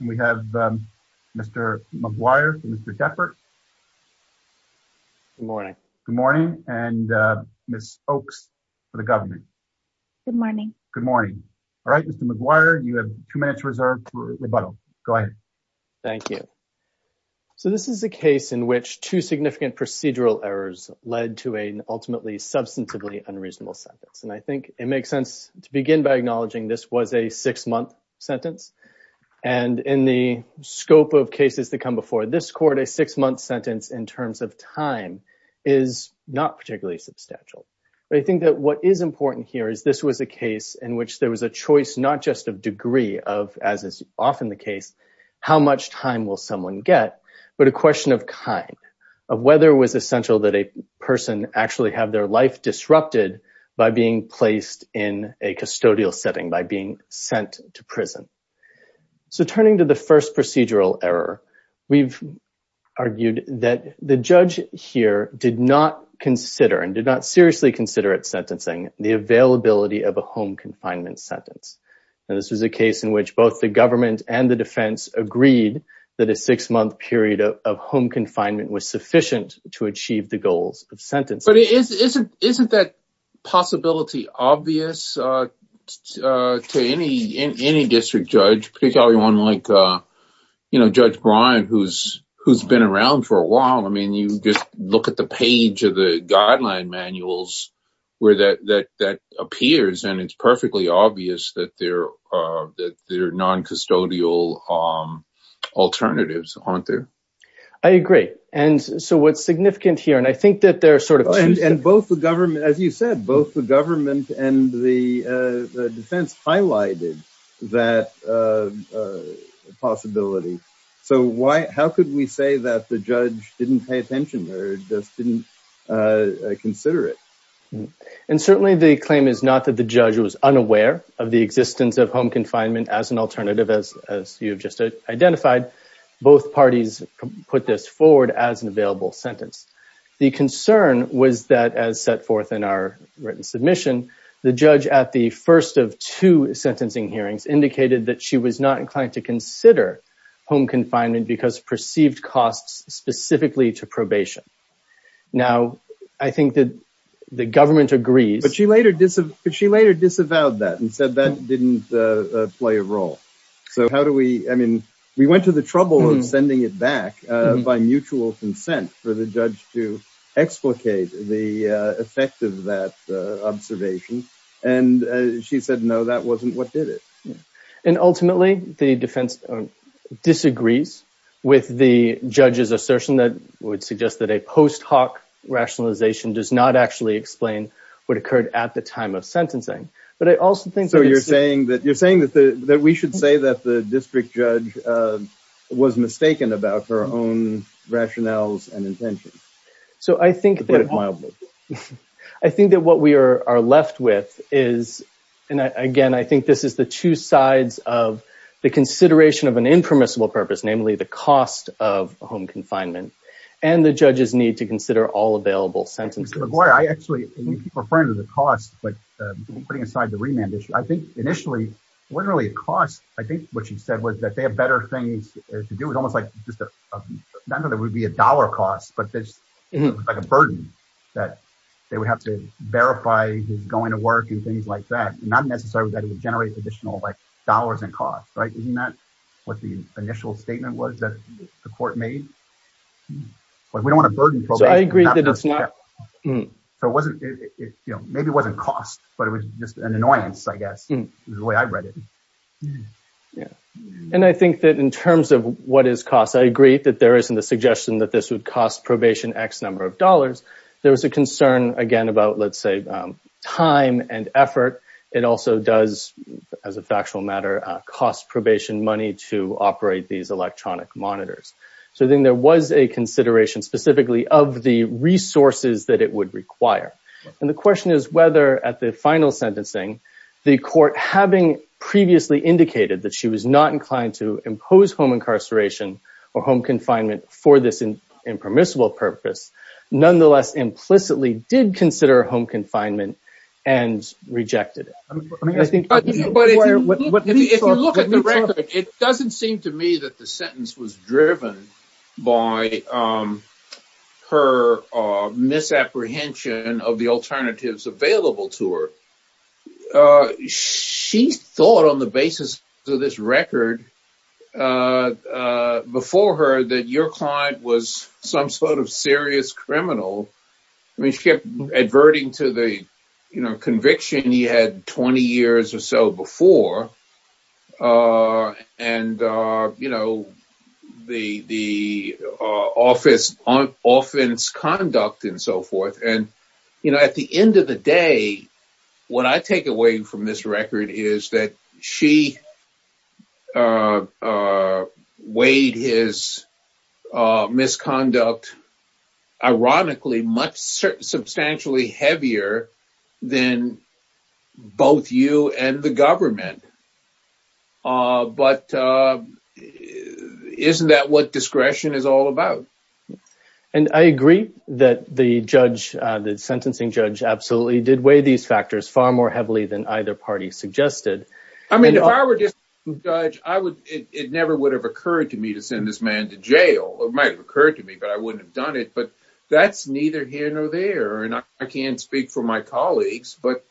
and we have Mr. McGuire for Mr. Deppert. Good morning. Good morning, and Ms. Oaks for the Governor. Good morning. Good morning. All right, Mr. McGuire, you have two minutes reserved for rebuttal. Go ahead. Thank you. So this is a case in which two significant procedural errors led to an ultimately substantively unreasonable sentence, and I think it makes sense to begin by acknowledging this was a six-month sentence, and in the scope of cases that come before this court, a six-month sentence in terms of time is not particularly substantial. But I think that what is important here is this was a case in which there was a choice not just of degree of, as is often the case, how much time will someone get, but a question of kind, of whether it was essential that a person actually have their life disrupted by being placed in a custodial setting, by being sent to prison. So turning to the first procedural error, we've argued that the judge here did not consider and did not seriously consider at sentencing the availability of a home confinement sentence. And this was a case in which both the government and the defense agreed that a six-month period of home confinement was sufficient to achieve the goals of sentencing. But isn't that possibility obvious to any district judge, particularly one like, you know, Judge Bryant, who's been around for a while? I mean, you just look at the page of the guideline manuals where that appears, and it's perfectly obvious that there are non-custodial alternatives, aren't there? I agree. And so what's significant here, and I think that there are sort of… And both the government, as you said, both the government and the defense highlighted that possibility. So how could we say that the judge didn't pay attention or just didn't consider it? And certainly the claim is not that the judge was unaware of the existence of home confinement as an alternative, as you've just identified. Both parties put this forward as an available sentence. The concern was that, as set forth in our written submission, the judge at the first of two sentencing hearings indicated that she was not inclined to consider home confinement because of perceived costs specifically to probation. Now, I think that the government agrees. But she later disavowed that and said that didn't play a role. I mean, we went to the trouble of sending it back by mutual consent for the judge to explicate the effect of that observation. And she said, no, that wasn't what did it. And ultimately, the defense disagrees with the judge's assertion that would suggest that a post hoc rationalization does not actually explain what occurred at the time of sentencing. But I also think that you're saying that you're saying that we should say that the district judge was mistaken about her own rationales and intentions. So I think that I think that what we are left with is. And again, I think this is the two sides of the consideration of an impermissible purpose, namely the cost of home confinement and the judge's need to consider all available sentences. I actually keep referring to the cost, but putting aside the remand issue, I think initially wasn't really a cost. I think what you said was that they have better things to do with almost like just another would be a dollar cost. But there's a burden that they would have to verify going to work and things like that. Not necessarily that it would generate additional dollars and costs. Right. Isn't that what the initial statement was that the court made? We don't want to burden. So I agree that it's not. So it wasn't maybe it wasn't cost, but it was just an annoyance, I guess, the way I read it. And I think that in terms of what is cost, I agree that there isn't a suggestion that this would cost probation X number of dollars. There was a concern, again, about, let's say, time and effort. It also does, as a factual matter, cost probation money to operate these electronic monitors. So then there was a consideration specifically of the resources that it would require. And the question is whether at the final sentencing, the court, having previously indicated that she was not inclined to impose home incarceration or home confinement for this impermissible purpose, nonetheless, implicitly did consider home confinement and rejected. But if you look at the record, it doesn't seem to me that the sentence was driven by her misapprehension of the alternatives available to her. She thought on the basis of this record before her that your client was some sort of serious criminal. I mean, she kept adverting to the conviction he had 20 years or so before and, you know, the the office on offense, conduct and so forth. And, you know, at the end of the day, what I take away from this record is that she weighed his misconduct, ironically, much substantially heavier than both you and the government. But isn't that what discretion is all about? And I agree that the judge, the sentencing judge absolutely did weigh these factors far more heavily than either party suggested. I mean, if I were just a judge, I would it never would have occurred to me to send this man to jail. It might have occurred to me, but I wouldn't have done it. But that's neither here nor there. And I can't speak for my colleagues, but,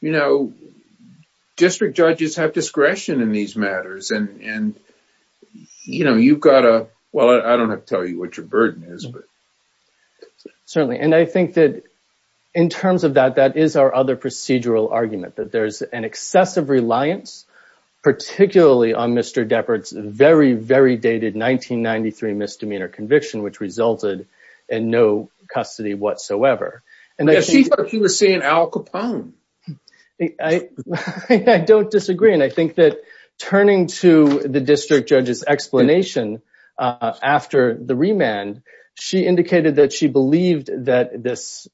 you know, district judges have discretion in these matters. And, you know, you've got to. Well, I don't have to tell you what your burden is, but certainly. And I think that in terms of that, that is our other procedural argument, that there's an excessive reliance, particularly on Mr. Depard's very, very dated 1993 misdemeanor conviction, which resulted in no custody whatsoever. And she thought she was seeing Al Capone. I don't disagree. And I think that turning to the district judge's explanation after the remand, she indicated that she believed that this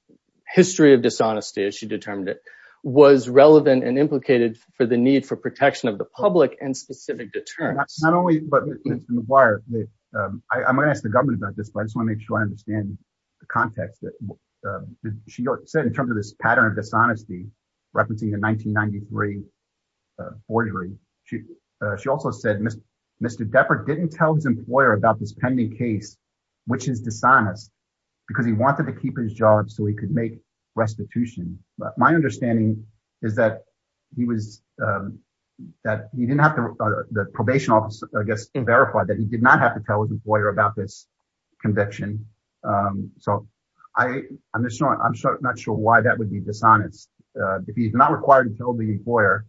history of dishonesty, as she determined it, was relevant and implicated for the need for protection of the public and specific deterrence. Not only that, but I'm going to ask the government about this. I just want to make sure I understand the context that she said in terms of this pattern of dishonesty referencing the 1993 forgery. She also said, Mr. Mr. Depard didn't tell his employer about this pending case, which is dishonest, because he wanted to keep his job so he could make restitution. But my understanding is that he was that he didn't have the probation office, I guess, verified that he did not have to tell his employer about this conviction. So I am not sure why that would be dishonest. If he's not required to tell the employer,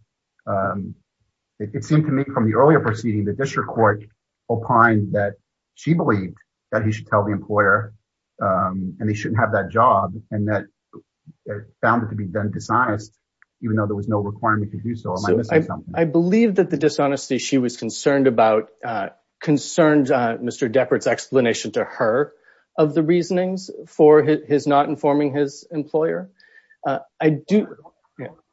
it seemed to me from the earlier proceeding, the district court opined that she believed that he should tell the employer and he shouldn't have that job. And that found it to be dishonest, even though there was no requirement to do so. I believe that the dishonesty she was concerned about concerned Mr. Depard's explanation to her of the reasonings for his not informing his employer. I do.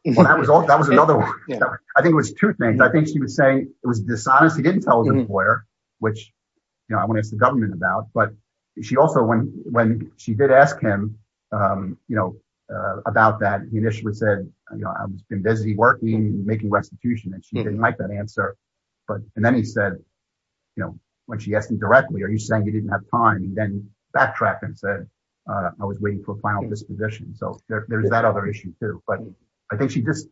That was all that was another. I think it was two things. I think she was saying it was dishonest. He didn't tell the employer, which I want to ask the government about. But she also when when she did ask him, you know, about that, he initially said, you know, I've been busy working, making restitution. And she didn't like that answer. But and then he said, you know, when she asked him directly, are you saying you didn't have time? And then backtracked and said, I was waiting for a final disposition. So there's that other issue, too. But I think she just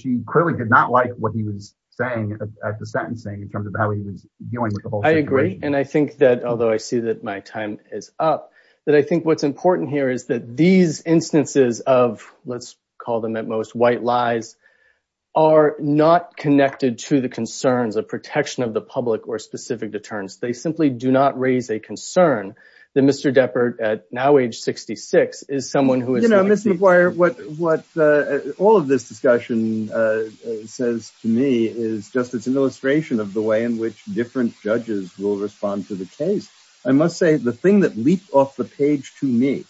she clearly did not like what he was saying at the sentencing in terms of how he was dealing with the whole. I agree. And I think that although I see that my time is up, that I think what's important here is that these instances of let's call them at most white lies are not connected to the concerns of protection of the public or specific deterrence. They simply do not raise a concern that Mr. What all of this discussion says to me is just it's an illustration of the way in which different judges will respond to the case. I must say the thing that leaped off the page to me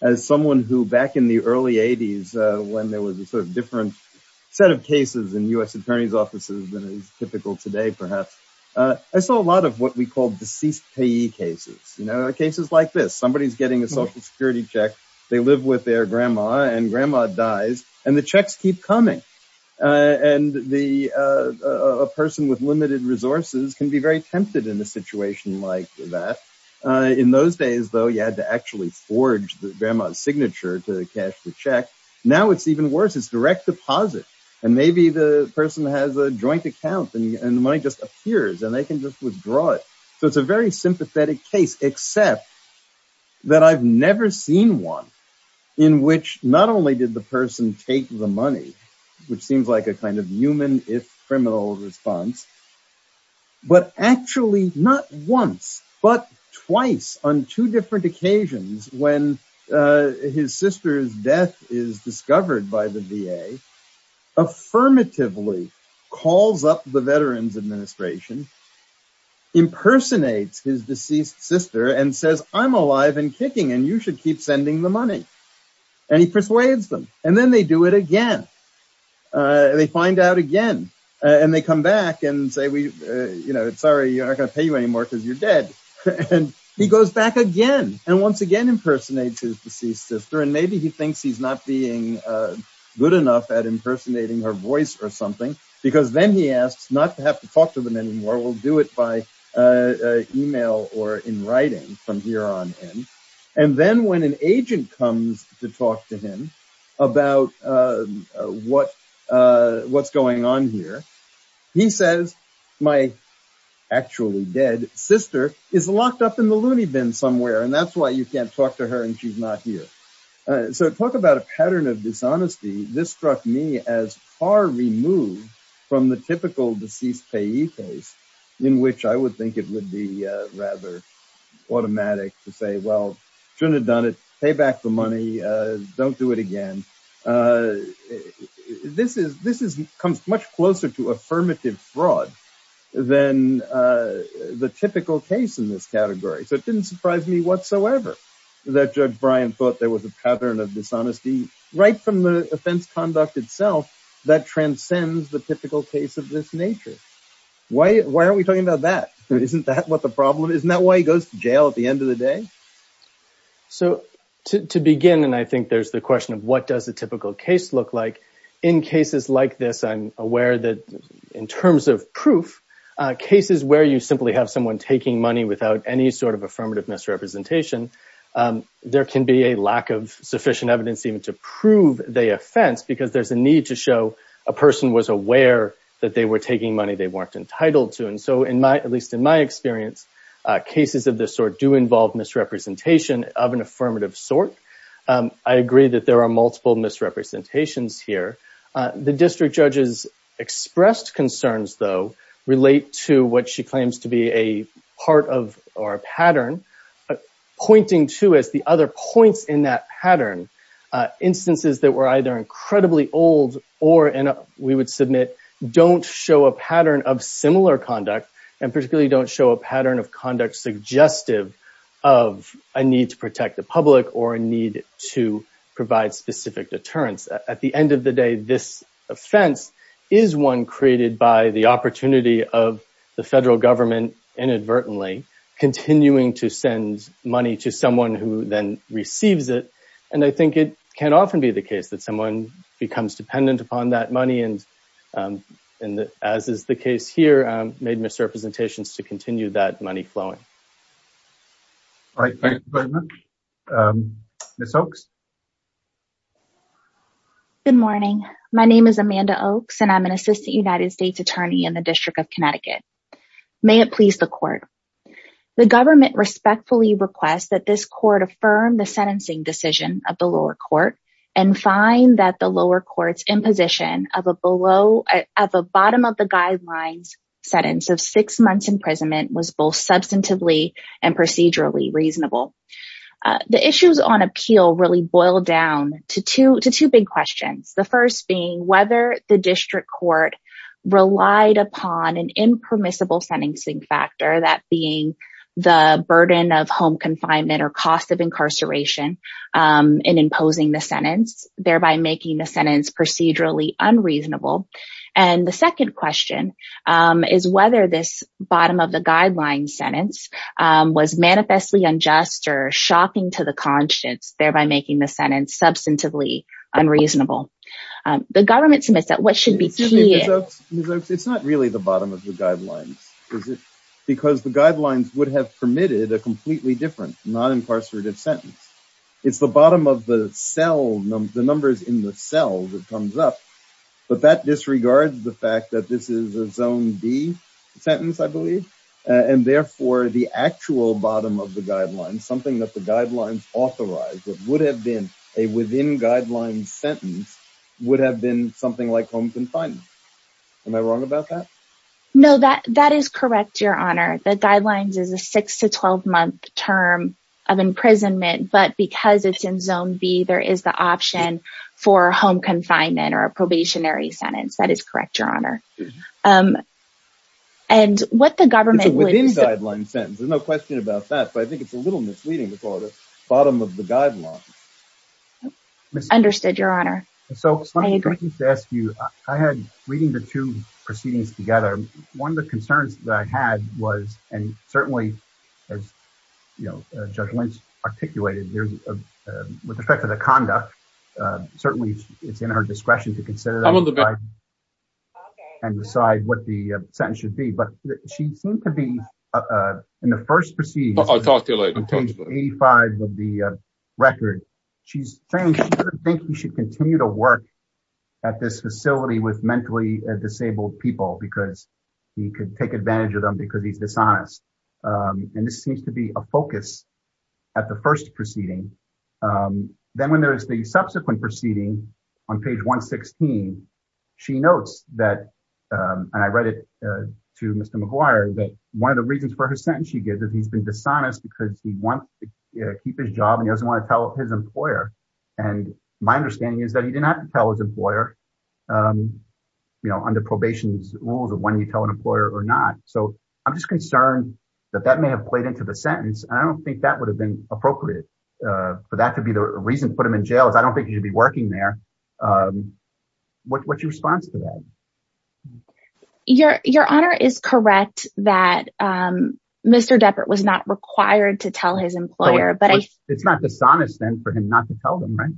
as someone who back in the early 80s, when there was a sort of different set of cases in U.S. And the checks keep coming. And the person with limited resources can be very tempted in a situation like that. In those days, though, you had to actually forge the grandma's signature to cash the check. Now it's even worse. It's direct deposit. And maybe the person has a joint account and the money just appears and they can just withdraw it. So it's a very sympathetic case, except that I've never seen one in which not only did the person take the money, which seems like a kind of human if criminal response. But actually, not once but twice on two different occasions when his sister's death is discovered by the V.A. Affirmatively calls up the Veterans Administration. Impersonates his deceased sister and says, I'm alive and kicking and you should keep sending the money. And he persuades them and then they do it again. They find out again and they come back and say, we, you know, sorry, you're not going to pay you anymore because you're dead. And he goes back again and once again, impersonates his deceased sister. And maybe he thinks he's not being good enough at impersonating her voice or something, because then he asks not to have to talk to them anymore. We'll do it by email or in writing from here on in. And then when an agent comes to talk to him about what what's going on here, he says, my actually dead sister is locked up in the loony bin somewhere. And that's why you can't talk to her and she's not here. So talk about a pattern of dishonesty. This struck me as far removed from the typical deceased payee case in which I would think it would be rather automatic to say, well, shouldn't have done it. Pay back the money. Don't do it again. This is this is comes much closer to affirmative fraud than the typical case in this category. So it didn't surprise me whatsoever that Judge Brian thought there was a pattern of dishonesty right from the offense conduct itself that transcends the typical case of this nature. Why? Why are we talking about that? Isn't that what the problem is? Now, why goes to jail at the end of the day? So to begin, and I think there's the question of what does a typical case look like in cases like this? I'm aware that in terms of proof cases where you simply have someone taking money without any sort of affirmative misrepresentation, there can be a lack of sufficient evidence even to prove the offense because there's a need to show a person was aware that they were taking money they weren't entitled to. And so in my at least in my experience, cases of this sort do involve misrepresentation of an affirmative sort. I agree that there are multiple misrepresentations here. The district judges expressed concerns, though, relate to what she claims to be a part of our pattern pointing to as the other points in that pattern. Instances that were either incredibly old or we would submit don't show a pattern of similar conduct and particularly don't show a pattern of conduct, of a need to protect the public or a need to provide specific deterrence. At the end of the day, this offense is one created by the opportunity of the federal government inadvertently continuing to send money to someone who then receives it. And I think it can often be the case that someone becomes dependent upon that money. And as is the case here, made misrepresentations to continue that money flowing. All right. Good morning. My name is Amanda Oaks and I'm an assistant United States attorney in the District of Connecticut. May it please the court. The government respectfully requests that this court affirm the sentencing decision of the lower court and find that the lower court's imposition of a below at the bottom of the guidelines sentence of six months imprisonment was both substantively and procedurally reasonable. The issues on appeal really boil down to two big questions. The first being whether the district court relied upon an impermissible sentencing factor, that being the burden of home confinement or cost of incarceration in imposing the sentence, thereby making the sentence procedurally unreasonable. And the second question is whether this bottom of the guidelines sentence was manifestly unjust or shocking to the conscience, thereby making the sentence substantively unreasonable. The government submits that what should be. It's not really the bottom of the guidelines. Because the guidelines would have permitted a completely different non-incarcerative sentence. It's the bottom of the cell numbers in the cell that comes up. But that disregards the fact that this is a zone B sentence, I believe. And therefore, the actual bottom of the guidelines, something that the guidelines authorized that would have been a within guidelines sentence would have been something like home confinement. Am I wrong about that? No, that that is correct. Your Honor, the guidelines is a six to 12 month term of imprisonment. But because it's in zone B, there is the option for home confinement or a probationary sentence. That is correct. Your Honor. And what the government would be guideline sentence. There's no question about that. But I think it's a little misleading to call it a bottom of the guidelines. Understood, Your Honor. So I agree to ask you, I had reading the two proceedings together. One of the concerns that I had was and certainly, as you know, Judge Lynch articulated with respect to the conduct. Certainly, it's in her discretion to consider and decide what the sentence should be. But she seemed to be in the first proceed. I'll talk to you later. 85 of the record, she's saying, I think we should continue to work at this facility with mentally disabled people because he could take advantage of them because he's dishonest. And this seems to be a focus at the first proceeding. Then when there is the subsequent proceeding on page 116, she notes that I read it to Mr. McGuire that one of the reasons for her sentence she gives is he's been dishonest because he wants to keep his job and doesn't want to tell his employer. And my understanding is that he did not tell his employer, you know, under probation rules of when you tell an employer or not. So I'm just concerned that that may have played into the sentence. I don't think that would have been appropriate for that to be the reason to put him in jail. I don't think he'd be working there. What's your response to that? Your your honor is correct that Mr. Deppert was not required to tell his employer, but it's not dishonest then for him not to tell them. Right.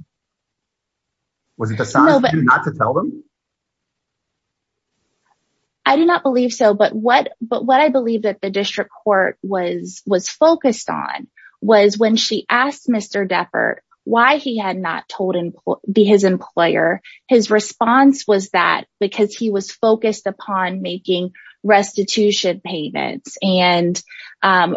Was it decided not to tell them? I do not believe so. But what but what I believe that the district court was was focused on was when she asked Mr. Deppert why he had not told him to be his employer. His response was that because he was focused upon making restitution payments and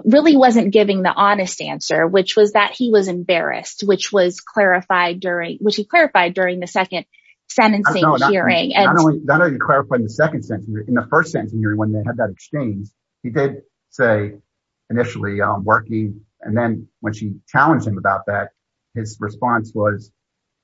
really wasn't giving the honest answer, which was that he was embarrassed, which was clarified during which he clarified during the second sentencing hearing. And I know you clarified the second sentence in the first sentence when they had that exchange. He did say initially working. And then when she challenged him about that, his response was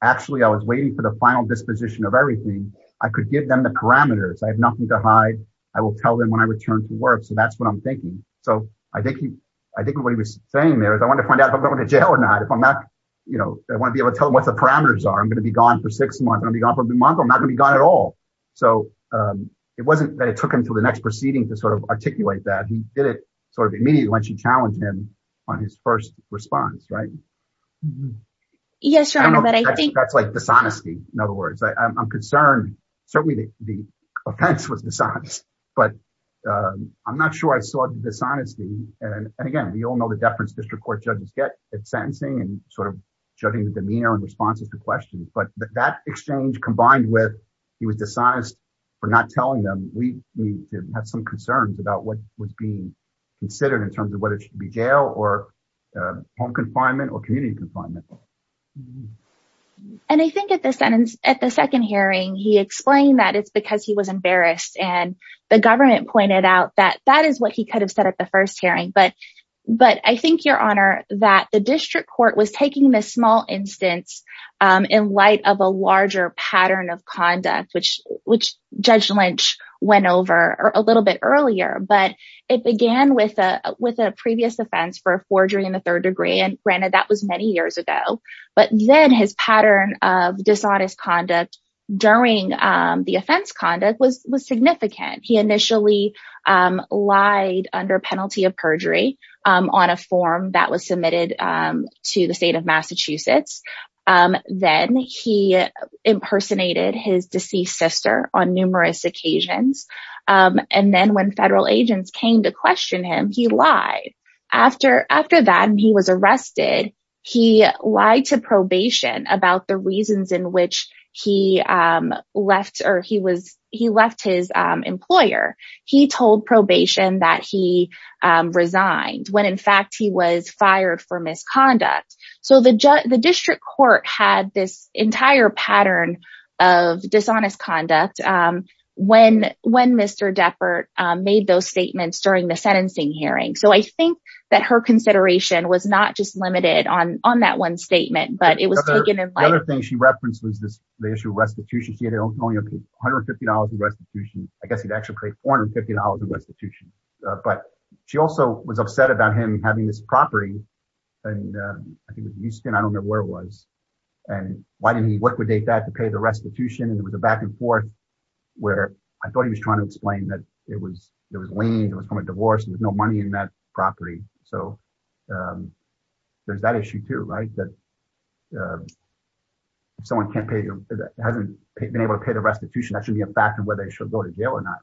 actually I was waiting for the final disposition of everything. I could give them the parameters. I have nothing to hide. I will tell them when I return to work. So that's what I'm thinking. So I think he I think what he was saying there is I want to find out if I'm going to jail or not. If I'm not, you know, I want to be able to tell what the parameters are. I'm going to be gone for six months. I'll be gone for a month. I'm not going to be gone at all. So it wasn't that it took him to the next proceeding to sort of articulate that. He did it sort of immediately when she challenged him on his first response. Right. Yes. But I think that's like dishonesty. In other words, I'm concerned. Certainly the offense was dishonest, but I'm not sure I saw dishonesty. And again, we all know the deference district court judges get at sentencing and sort of judging the demeanor and responses to questions. But that exchange combined with he was dishonest for not telling them. We have some concerns about what would be considered in terms of whether it should be jail or home confinement or community confinement. And I think at the sentence at the second hearing, he explained that it's because he was embarrassed. And the government pointed out that that is what he could have said at the first hearing. But but I think, Your Honor, that the district court was taking this small instance in light of a larger pattern of conduct, which which Judge Lynch went over a little bit earlier. But it began with a with a previous offense for forgery in the third degree. And granted, that was many years ago. But then his pattern of dishonest conduct during the offense conduct was significant. He initially lied under penalty of perjury on a form that was submitted to the state of Massachusetts. Then he impersonated his deceased sister on numerous occasions. And then when federal agents came to question him, he lied after after that. And he was arrested. He lied to probation about the reasons in which he left or he was he left his employer. He told probation that he resigned when, in fact, he was fired for misconduct. So the judge, the district court had this entire pattern of dishonest conduct when when Mr. Deppert made those statements during the sentencing hearing. So I think that her consideration was not just limited on on that one statement, but it was taken. And the other thing she referenced was this issue of restitution. She had only one hundred fifty dollars in restitution. I guess he'd actually pay four hundred fifty dollars in restitution. But she also was upset about him having this property. And I think it was Houston. I don't know where it was. And why didn't he liquidate that to pay the restitution? And it was a back and forth where I thought he was trying to explain that it was it was lame. It was from a divorce. There's no money in that property. So there's that issue, too. That someone can't pay hasn't been able to pay the restitution. That should be a factor where they should go to jail or not.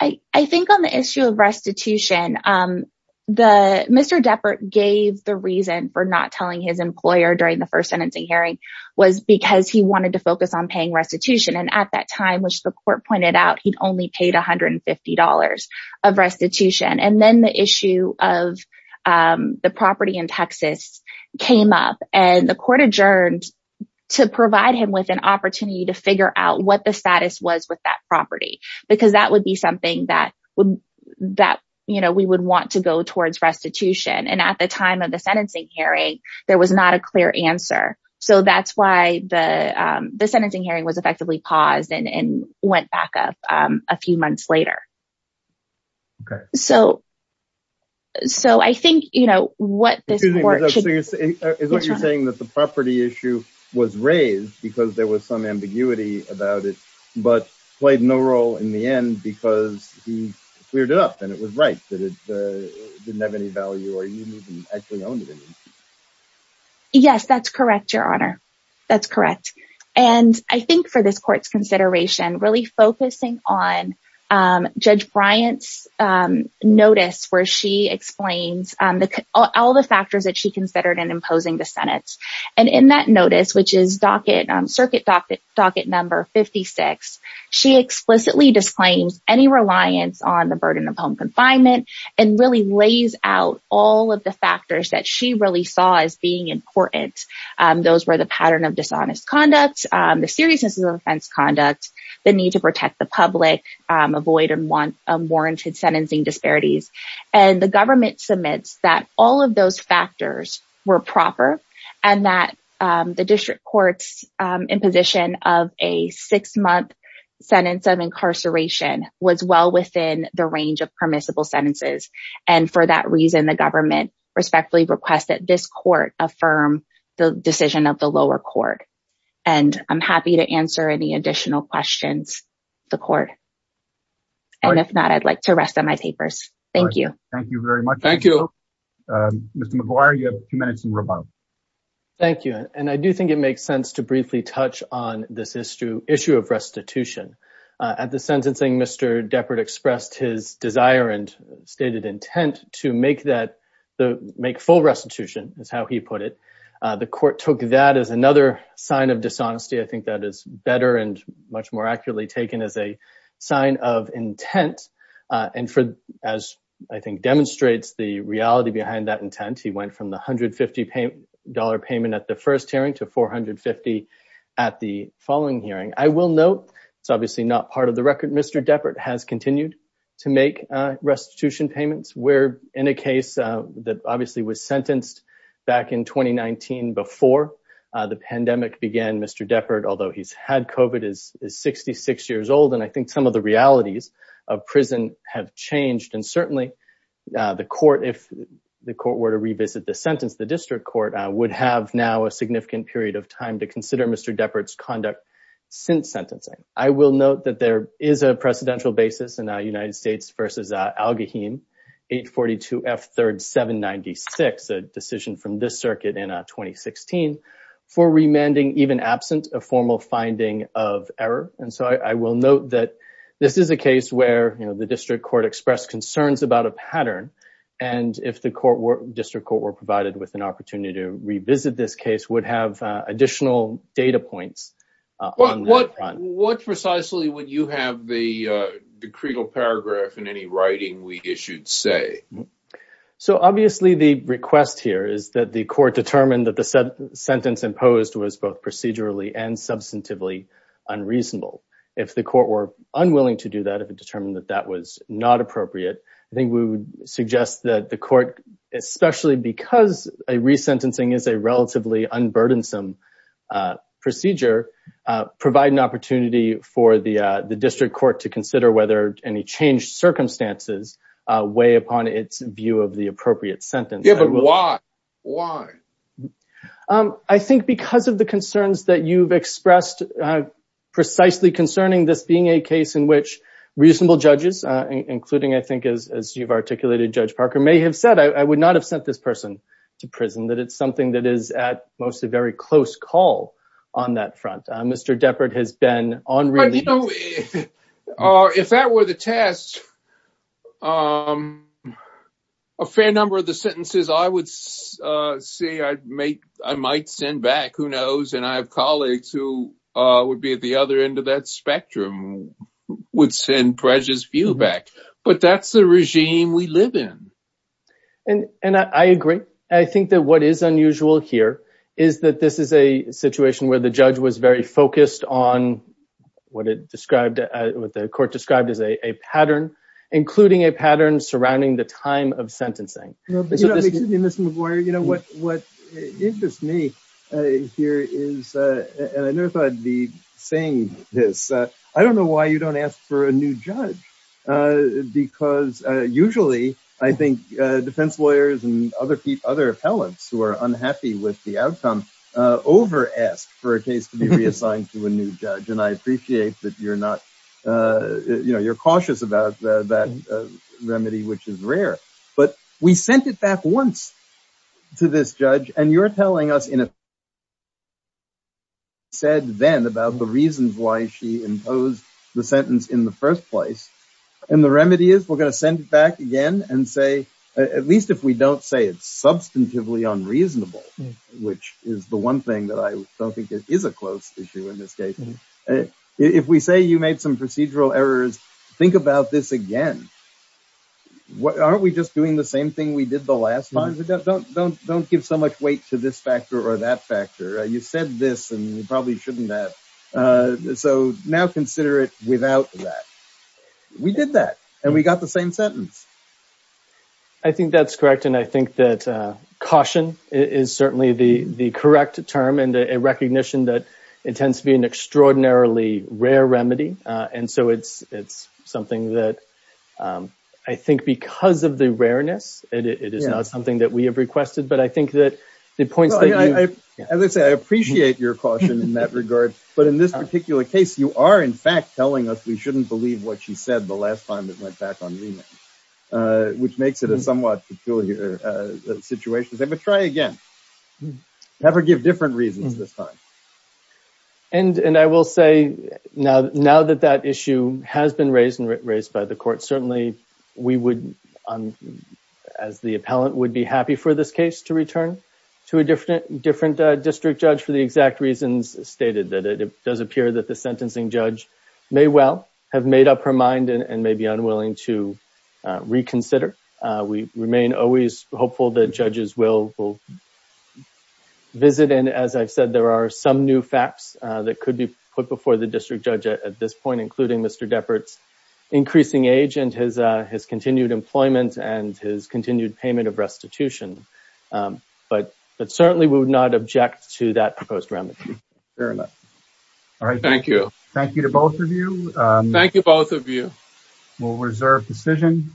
Right. I think on the issue of restitution, the Mr. Deppert gave the reason for not telling his employer during the first sentencing hearing was because he wanted to focus on paying restitution. And at that time, which the court pointed out, he'd only paid one hundred and fifty dollars of restitution. And then the issue of the property in Texas came up and the court adjourned to provide him with an opportunity to figure out what the status was with that property, because that would be something that would that we would want to go towards restitution. And at the time of the sentencing hearing, there was not a clear answer. So that's why the the sentencing hearing was effectively paused and went back up a few months later. So. So I think, you know what, this is what you're saying, that the property issue was raised because there was some ambiguity about it, but played no role in the end because he cleared it up and it was right that it didn't have any value or even actually owned it. Yes, that's correct, Your Honor. That's correct. And I think for this court's consideration, really focusing on Judge Bryant's notice where she explains all the factors that she considered in imposing the Senate. And in that notice, which is docket on circuit docket, docket number fifty six. She explicitly disclaims any reliance on the burden of home confinement and really lays out all of the factors that she really saw as being important. Those were the pattern of dishonest conduct, the seriousness of offense conduct, the need to protect the public, avoid and warranted sentencing disparities. And the government submits that all of those factors were proper and that the district courts in position of a six month sentence of incarceration was well within the range of permissible sentences. And for that reason, the government respectfully request that this court affirm the decision of the lower court. And I'm happy to answer any additional questions the court. And if not, I'd like to rest on my papers. Thank you. Thank you very much. Thank you. Mr. McGuire, you have two minutes in rebuttal. Thank you. And I do think it makes sense to briefly touch on this issue, issue of restitution at the sentencing. Mr. Depard expressed his desire and stated intent to make that make full restitution is how he put it. The court took that as another sign of dishonesty. I think that is better and much more accurately taken as a sign of intent. And for as I think demonstrates the reality behind that intent, he went from the hundred fifty dollar payment at the first hearing to four hundred fifty at the following hearing. I will note it's obviously not part of the record. Mr. Depard has continued to make restitution payments. We're in a case that obviously was sentenced back in twenty nineteen before the pandemic began. Mr. Depard, although he's had covered, is 66 years old. And I think some of the realities of prison have changed. And certainly the court, if the court were to revisit the sentence, the district court would have now a significant period of time to consider. Mr. Depard's conduct since sentencing. I will note that there is a precedential basis in the United States versus Al-Gaheem, 842 F. Third, 796, a decision from this circuit in 2016 for remanding, even absent a formal finding of error. And so I will note that this is a case where the district court expressed concerns about a pattern. And if the court were district court were provided with an opportunity to revisit, this case would have additional data points. What precisely would you have the decreed paragraph in any writing? We issued say so. Obviously, the request here is that the court determined that the sentence imposed was both procedurally and substantively unreasonable. If the court were unwilling to do that, if it determined that that was not appropriate, I think we would suggest that the court, especially because a resentencing is a relatively unburdensome procedure, provide an opportunity for the district court to consider whether any changed circumstances weigh upon its view of the appropriate sentence. Yeah, but why? Why? I think because of the concerns that you've expressed precisely concerning this being a case in which reasonable judges, including, I think, as you've articulated, Judge Parker, may have said, I would not have sent this person to prison, that it's something that is at most a very close call on that front. Mr. Depard has been on. You know, if that were the test, a fair number of the sentences I would say I'd make, I might send back. Who knows? And I have colleagues who would be at the other end of that spectrum, would send prejudice view back. But that's the regime we live in. And I agree. I think that what is unusual here is that this is a situation where the judge was very focused on what it described, what the court described as a pattern, including a pattern surrounding the time of sentencing. You know, what interests me here is, and I never thought I'd be saying this, I don't know why you don't ask for a new judge, because usually I think defense lawyers and other people, other appellants who are unhappy with the outcome over asked for a case to be reassigned to a new judge. And I appreciate that you're not you know, you're cautious about that remedy, which is rare. But we sent it back once to this judge and you're telling us in a said then about the reasons why she imposed the sentence in the first place. And the remedy is we're going to send it back again and say, at least if we don't say it's substantively unreasonable, which is the one thing that I don't think it is a close issue in this case. If we say you made some procedural errors, think about this again. Aren't we just doing the same thing we did the last time? Don't don't don't give so much weight to this factor or that factor. You said this and you probably shouldn't have. So now consider it without that. We did that and we got the same sentence. I think that's correct. And I think that caution is certainly the the correct term and a recognition that it tends to be an extraordinarily rare remedy. And so it's it's something that I think because of the rareness, it is not something that we have requested. But I think that the point is, as I say, I appreciate your caution in that regard. But in this particular case, you are, in fact, telling us we shouldn't believe what she said the last time it went back on me, which makes it a somewhat peculiar situation. But try again. Never give different reasons this time. And and I will say now, now that that issue has been raised and raised by the court, certainly we would, as the appellant would be happy for this case to return to a different different district judge for the exact reasons stated, that it does appear that the sentencing judge may well have made up her mind and may be unwilling to reconsider. We remain always hopeful that judges will visit. And as I've said, there are some new facts that could be put before the district judge at this point, including Mr. Deppert's increasing age and his his continued employment and his continued payment of restitution. But but certainly we would not object to that proposed remedy. All right. Thank you. Thank you to both of you. Thank you. Both of you will reserve decision.